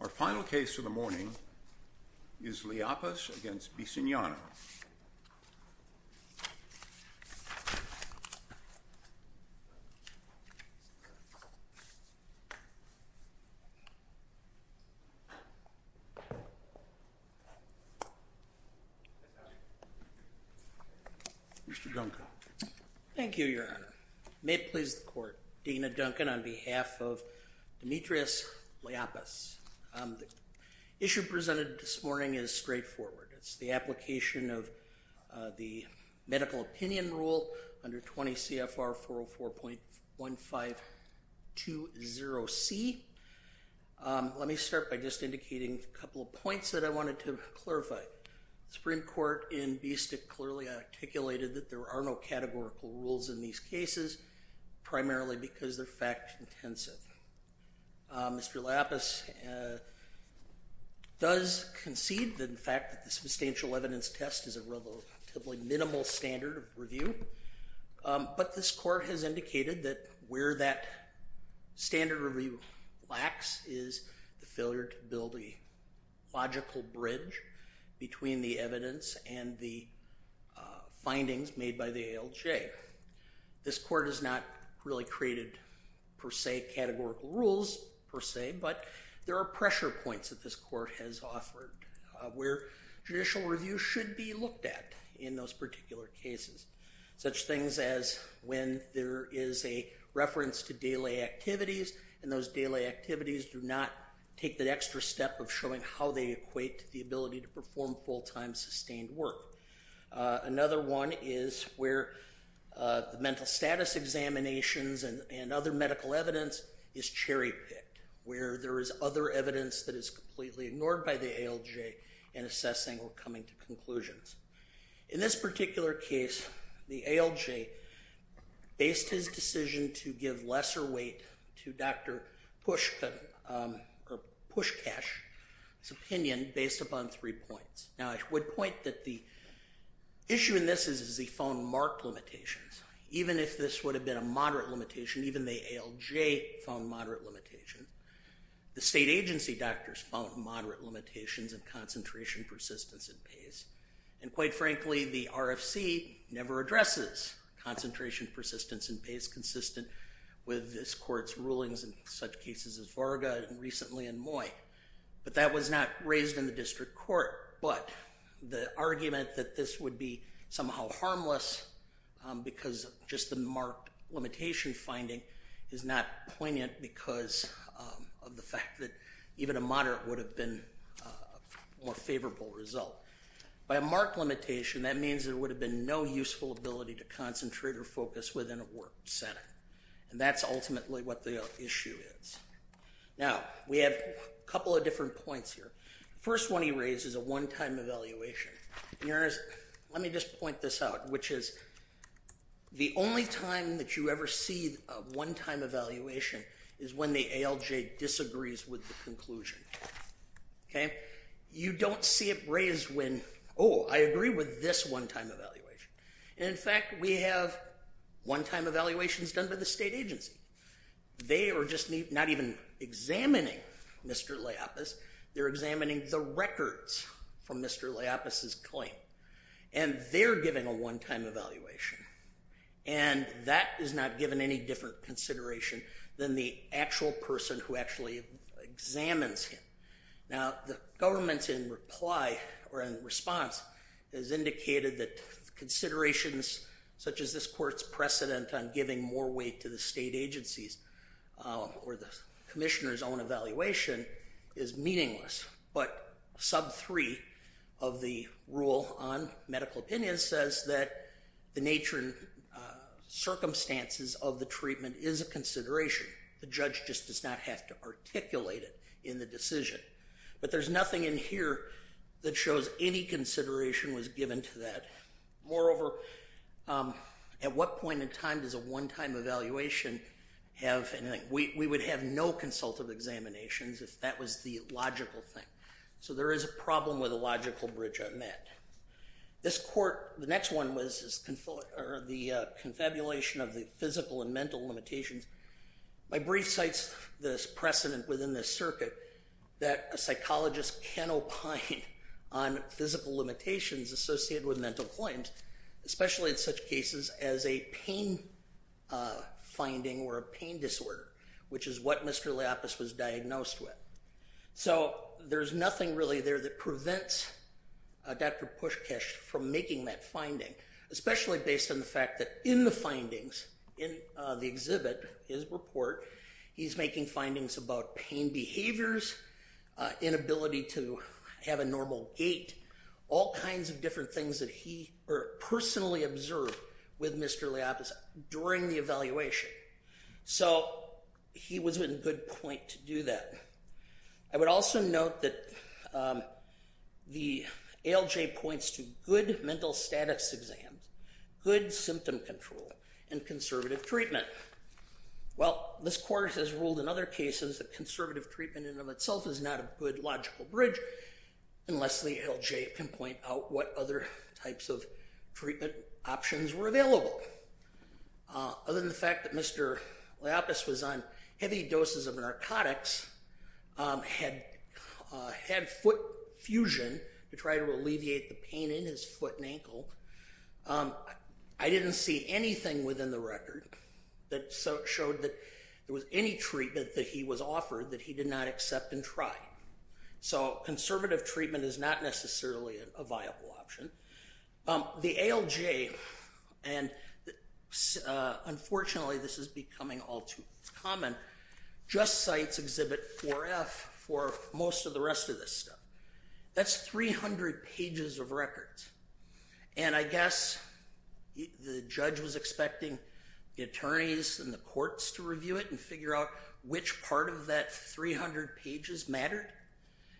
Our final case for the morning is Liapis v. Bisignano. Mr. Duncan. Thank you, Your Honor. May it please the Court, Dana Duncan on behalf of Dimitrios Liapis. The issue presented this morning is straightforward. It's the application of the medical opinion rule under 20 CFR 404.1520C. Let me start by just indicating a couple of points that I wanted to clarify. The Supreme Court in Bistik clearly articulated that there are no categorical rules in these cases, primarily because they're fact-intensive. Mr. Liapis does concede the fact that the substantial evidence test is a relatively minimal standard of review, but this Court has indicated that where that standard review lacks is the failure to build a logical bridge between the evidence and the findings made by the ALJ. This Court has not really created, per se, categorical rules, per se, but there are pressure points that this Court has offered where judicial review should be looked at in those particular cases, such things as when there is a reference to daily activities and those daily activities do not take the extra step of showing how they equate to the ability to perform full-time, sustained work. Another one is where the mental status examinations and other medical evidence is cherry-picked, where there is other evidence that is completely ignored by the ALJ in assessing or coming to conclusions. In this particular case, the ALJ based his decision to give lesser weight to Dr. Pushkash's opinion based upon three points. Now, I would point that the issue in this is that he found marked limitations. Even if this would have been a moderate limitation, even the ALJ found moderate limitations. The state agency doctors found moderate limitations in concentration, persistence, and pace. And, quite frankly, the RFC never addresses concentration, persistence, and pace consistent with this Court's rulings in such cases as Varga and recently in Moy. But that was not raised in the district court, but the argument that this would be somehow harmless because just the marked limitation finding is not poignant because of the fact that even a moderate would have been a more favorable result. By a marked limitation, that means there would have been no useful ability to concentrate or focus within a work setting. And that's ultimately what the issue is. Now, we have a couple of different points here. The first one he raised is a one-time evaluation. Let me just point this out, which is the only time that you ever see a one-time evaluation is when the ALJ disagrees with the conclusion. Okay? You don't see it raised when, oh, I agree with this one-time evaluation. And, in fact, we have one-time evaluations done by the state agency. They are just not even examining Mr. Laiapas. They're examining the records from Mr. Laiapas' claim. And they're giving a one-time evaluation. And that is not given any different consideration than the actual person who actually examines him. Now, the government in reply or in response has indicated that considerations such as this court's precedent on giving more weight to the state agencies or the commissioner's own evaluation is meaningless. But sub 3 of the rule on medical opinion says that the nature and circumstances of the treatment is a consideration. The judge just does not have to articulate it in the decision. But there's nothing in here that shows any consideration was given to that. Moreover, at what point in time does a one-time evaluation have anything? We would have no consultative examinations if that was the logical thing. So there is a problem with a logical bridge on that. This court, the next one was the confabulation of the physical and mental limitations. My brief cites this precedent within the circuit that a psychologist can opine on physical limitations associated with mental claims, especially in such cases as a pain finding or a pain disorder, which is what Mr. Laiapas was diagnosed with. So there's nothing really there that prevents Dr. Pushkesh from making that finding, especially based on the fact that in the findings in the exhibit, his report, he's making findings about pain behaviors, inability to have a normal gait, all kinds of different things that he personally observed with Mr. Laiapas during the evaluation. So he was in good point to do that. I would also note that the ALJ points to good mental status exams, good symptom control, and conservative treatment. Well, this court has ruled in other cases that conservative treatment in and of itself is not a good logical bridge unless the ALJ can point out what other types of treatment options were available. Other than the fact that Mr. Laiapas was on heavy doses of narcotics, had foot fusion to try to alleviate the pain in his foot and ankle, I didn't see anything within the record that showed that there was any treatment that he was offered that he did not accept and try. So conservative treatment is not necessarily a viable option. The ALJ, and unfortunately this is becoming all too common, just cites Exhibit 4F for most of the rest of this stuff. That's 300 pages of records. And I guess the judge was expecting the attorneys and the courts to review it and figure out which part of that 300 pages mattered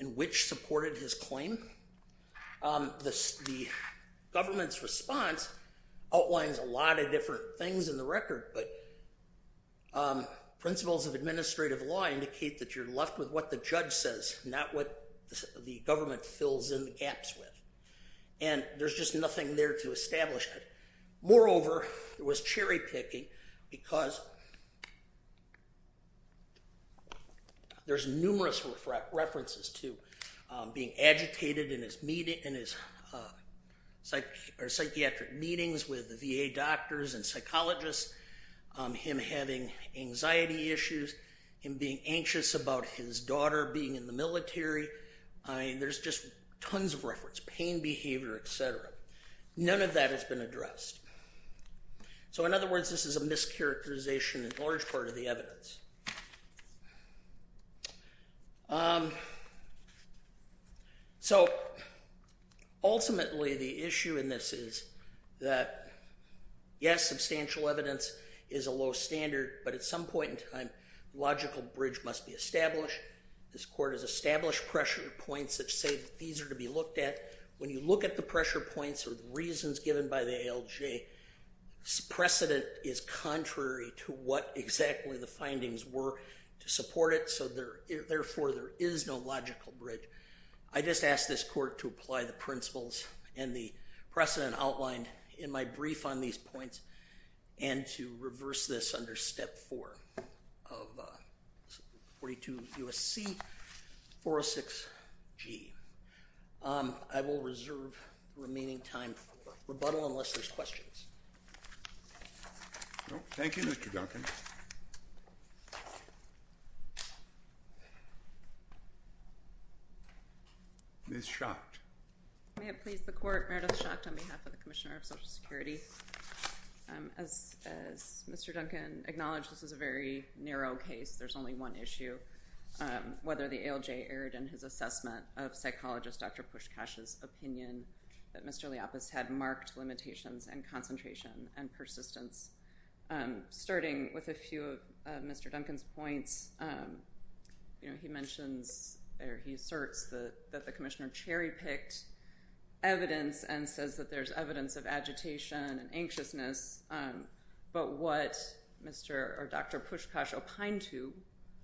and which supported his claim. The government's response outlines a lot of different things in the record, but principles of administrative law indicate that you're left with what the judge says, not what the government fills in the gaps with. And there's just nothing there to establish that. Moreover, there was cherry picking because there's numerous references to being agitated in his psychiatric meetings with the VA doctors and psychologists, him having anxiety issues, him being anxious about his daughter being in the military. I mean, there's just tons of reference, pain behavior, etc. None of that has been addressed. So in other words, this is a mischaracterization in a large part of the evidence. So ultimately, the issue in this is that, yes, substantial evidence is a low standard, but at some point in time, a logical bridge must be established. This court has established pressure points that say that these are to be looked at. When you look at the pressure points or the reasons given by the ALJ, precedent is contrary to what exactly the findings were to support it. So therefore, there is no logical bridge. I just ask this court to apply the principles and the precedent outlined in my brief on these points and to reverse this under Step 4 of 42 U.S.C. 406G. I will reserve the remaining time for rebuttal unless there's questions. Thank you, Mr. Duncan. Ms. Schacht. May it please the court, Meredith Schacht on behalf of the Commissioner of Social Security. As Mr. Duncan acknowledged, this is a very narrow case. There's only one issue, whether the ALJ erred in his assessment of psychologist Dr. Pushkash's opinion that Mr. Liapas had marked limitations and concentration and persistence. Starting with a few of Mr. Duncan's points, you know, he mentions or he asserts that the Commissioner cherry-picked evidence and says that there's evidence of agitation and anxiousness. But what Mr. or Dr. Pushkash opined to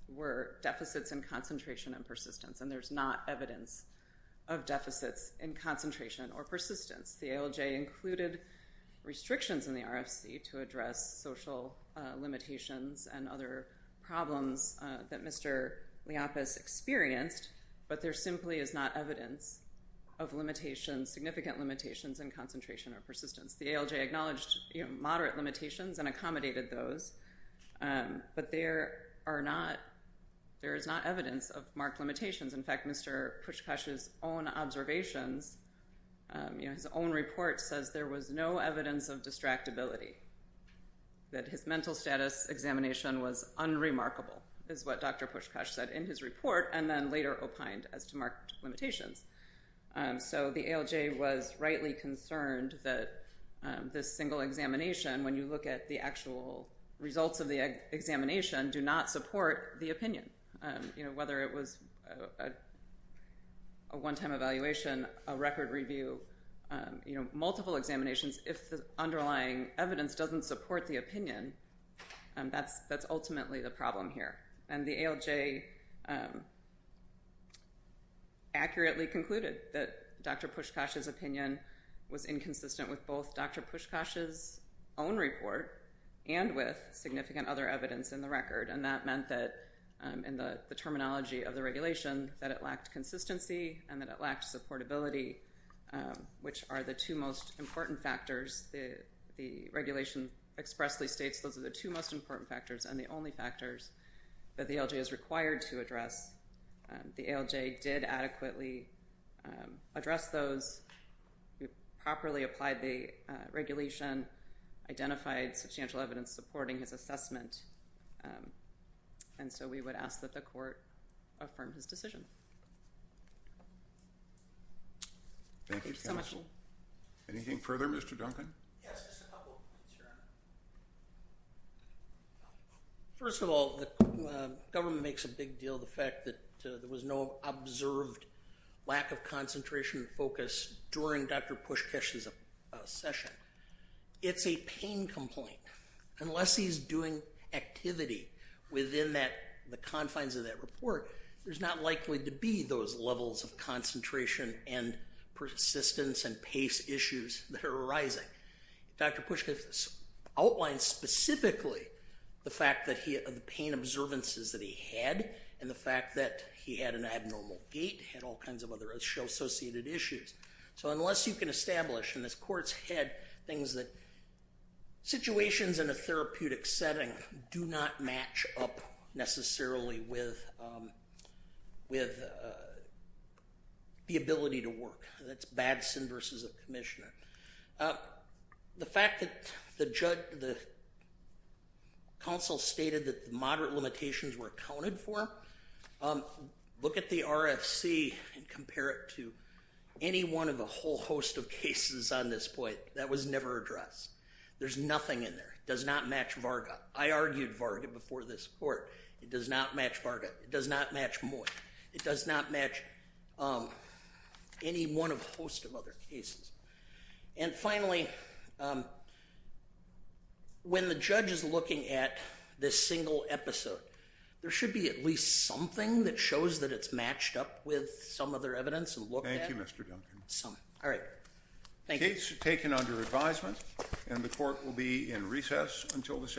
were deficits in concentration and persistence, and there's not evidence of deficits in concentration or persistence. The ALJ included restrictions in the RFC to address social limitations and other problems that Mr. Liapas experienced, but there simply is not evidence of limitations, significant limitations in concentration or persistence. The ALJ acknowledged, you know, moderate limitations and accommodated those, but there are not, there is not evidence of marked limitations. In fact, Mr. Pushkash's own observations, you know, his own report says there was no evidence of distractibility, that his mental status examination was unremarkable is what Dr. Pushkash said in his report and then later opined as to marked limitations. So the ALJ was rightly concerned that this single examination, when you look at the actual results of the examination, do not support the opinion. You know, whether it was a one-time evaluation, a record review, you know, multiple examinations, if the underlying evidence doesn't support the opinion, that's ultimately the problem here. And the ALJ accurately concluded that Dr. Pushkash's opinion was inconsistent with both Dr. Pushkash's own report and with significant other evidence in the record. And that meant that, in the terminology of the regulation, that it lacked consistency and that it lacked supportability, which are the two most important factors. The regulation expressly states those are the two most important factors and the only factors that the ALJ is required to address. The ALJ did adequately address those, properly applied the regulation, identified substantial evidence supporting his assessment, and so we would ask that the court affirm his decision. Thank you, counsel. Anything further, Mr. Duncan? Yes, just a couple of points, Your Honor. First of all, the government makes a big deal of the fact that there was no observed lack of concentration and focus during Dr. Pushkash's session. It's a pain complaint. Unless he's doing activity within the confines of that report, there's not likely to be those levels of concentration and persistence and pace issues that are arising. Dr. Pushkash outlined specifically the pain observances that he had and the fact that he had an abnormal gait, had all kinds of other associated issues. So unless you can establish in this court's head things that situations in a therapeutic setting do not match up necessarily with the ability to work. That's bad sin versus a commissioner. The fact that the counsel stated that the moderate limitations were accounted for, look at the RFC and compare it to any one of a whole host of cases on this point. That was never addressed. There's nothing in there. It does not match Varga. I argued Varga before this court. It does not match Varga. It does not match Moy. It does not match any one of a host of other cases. And finally, when the judge is looking at this single episode, there should be at least something that shows that it's matched up with some other evidence and looked at. Thank you, Mr. Duncan. All right. Thank you. The case is taken under advisement and the court will be in recess until this afternoon.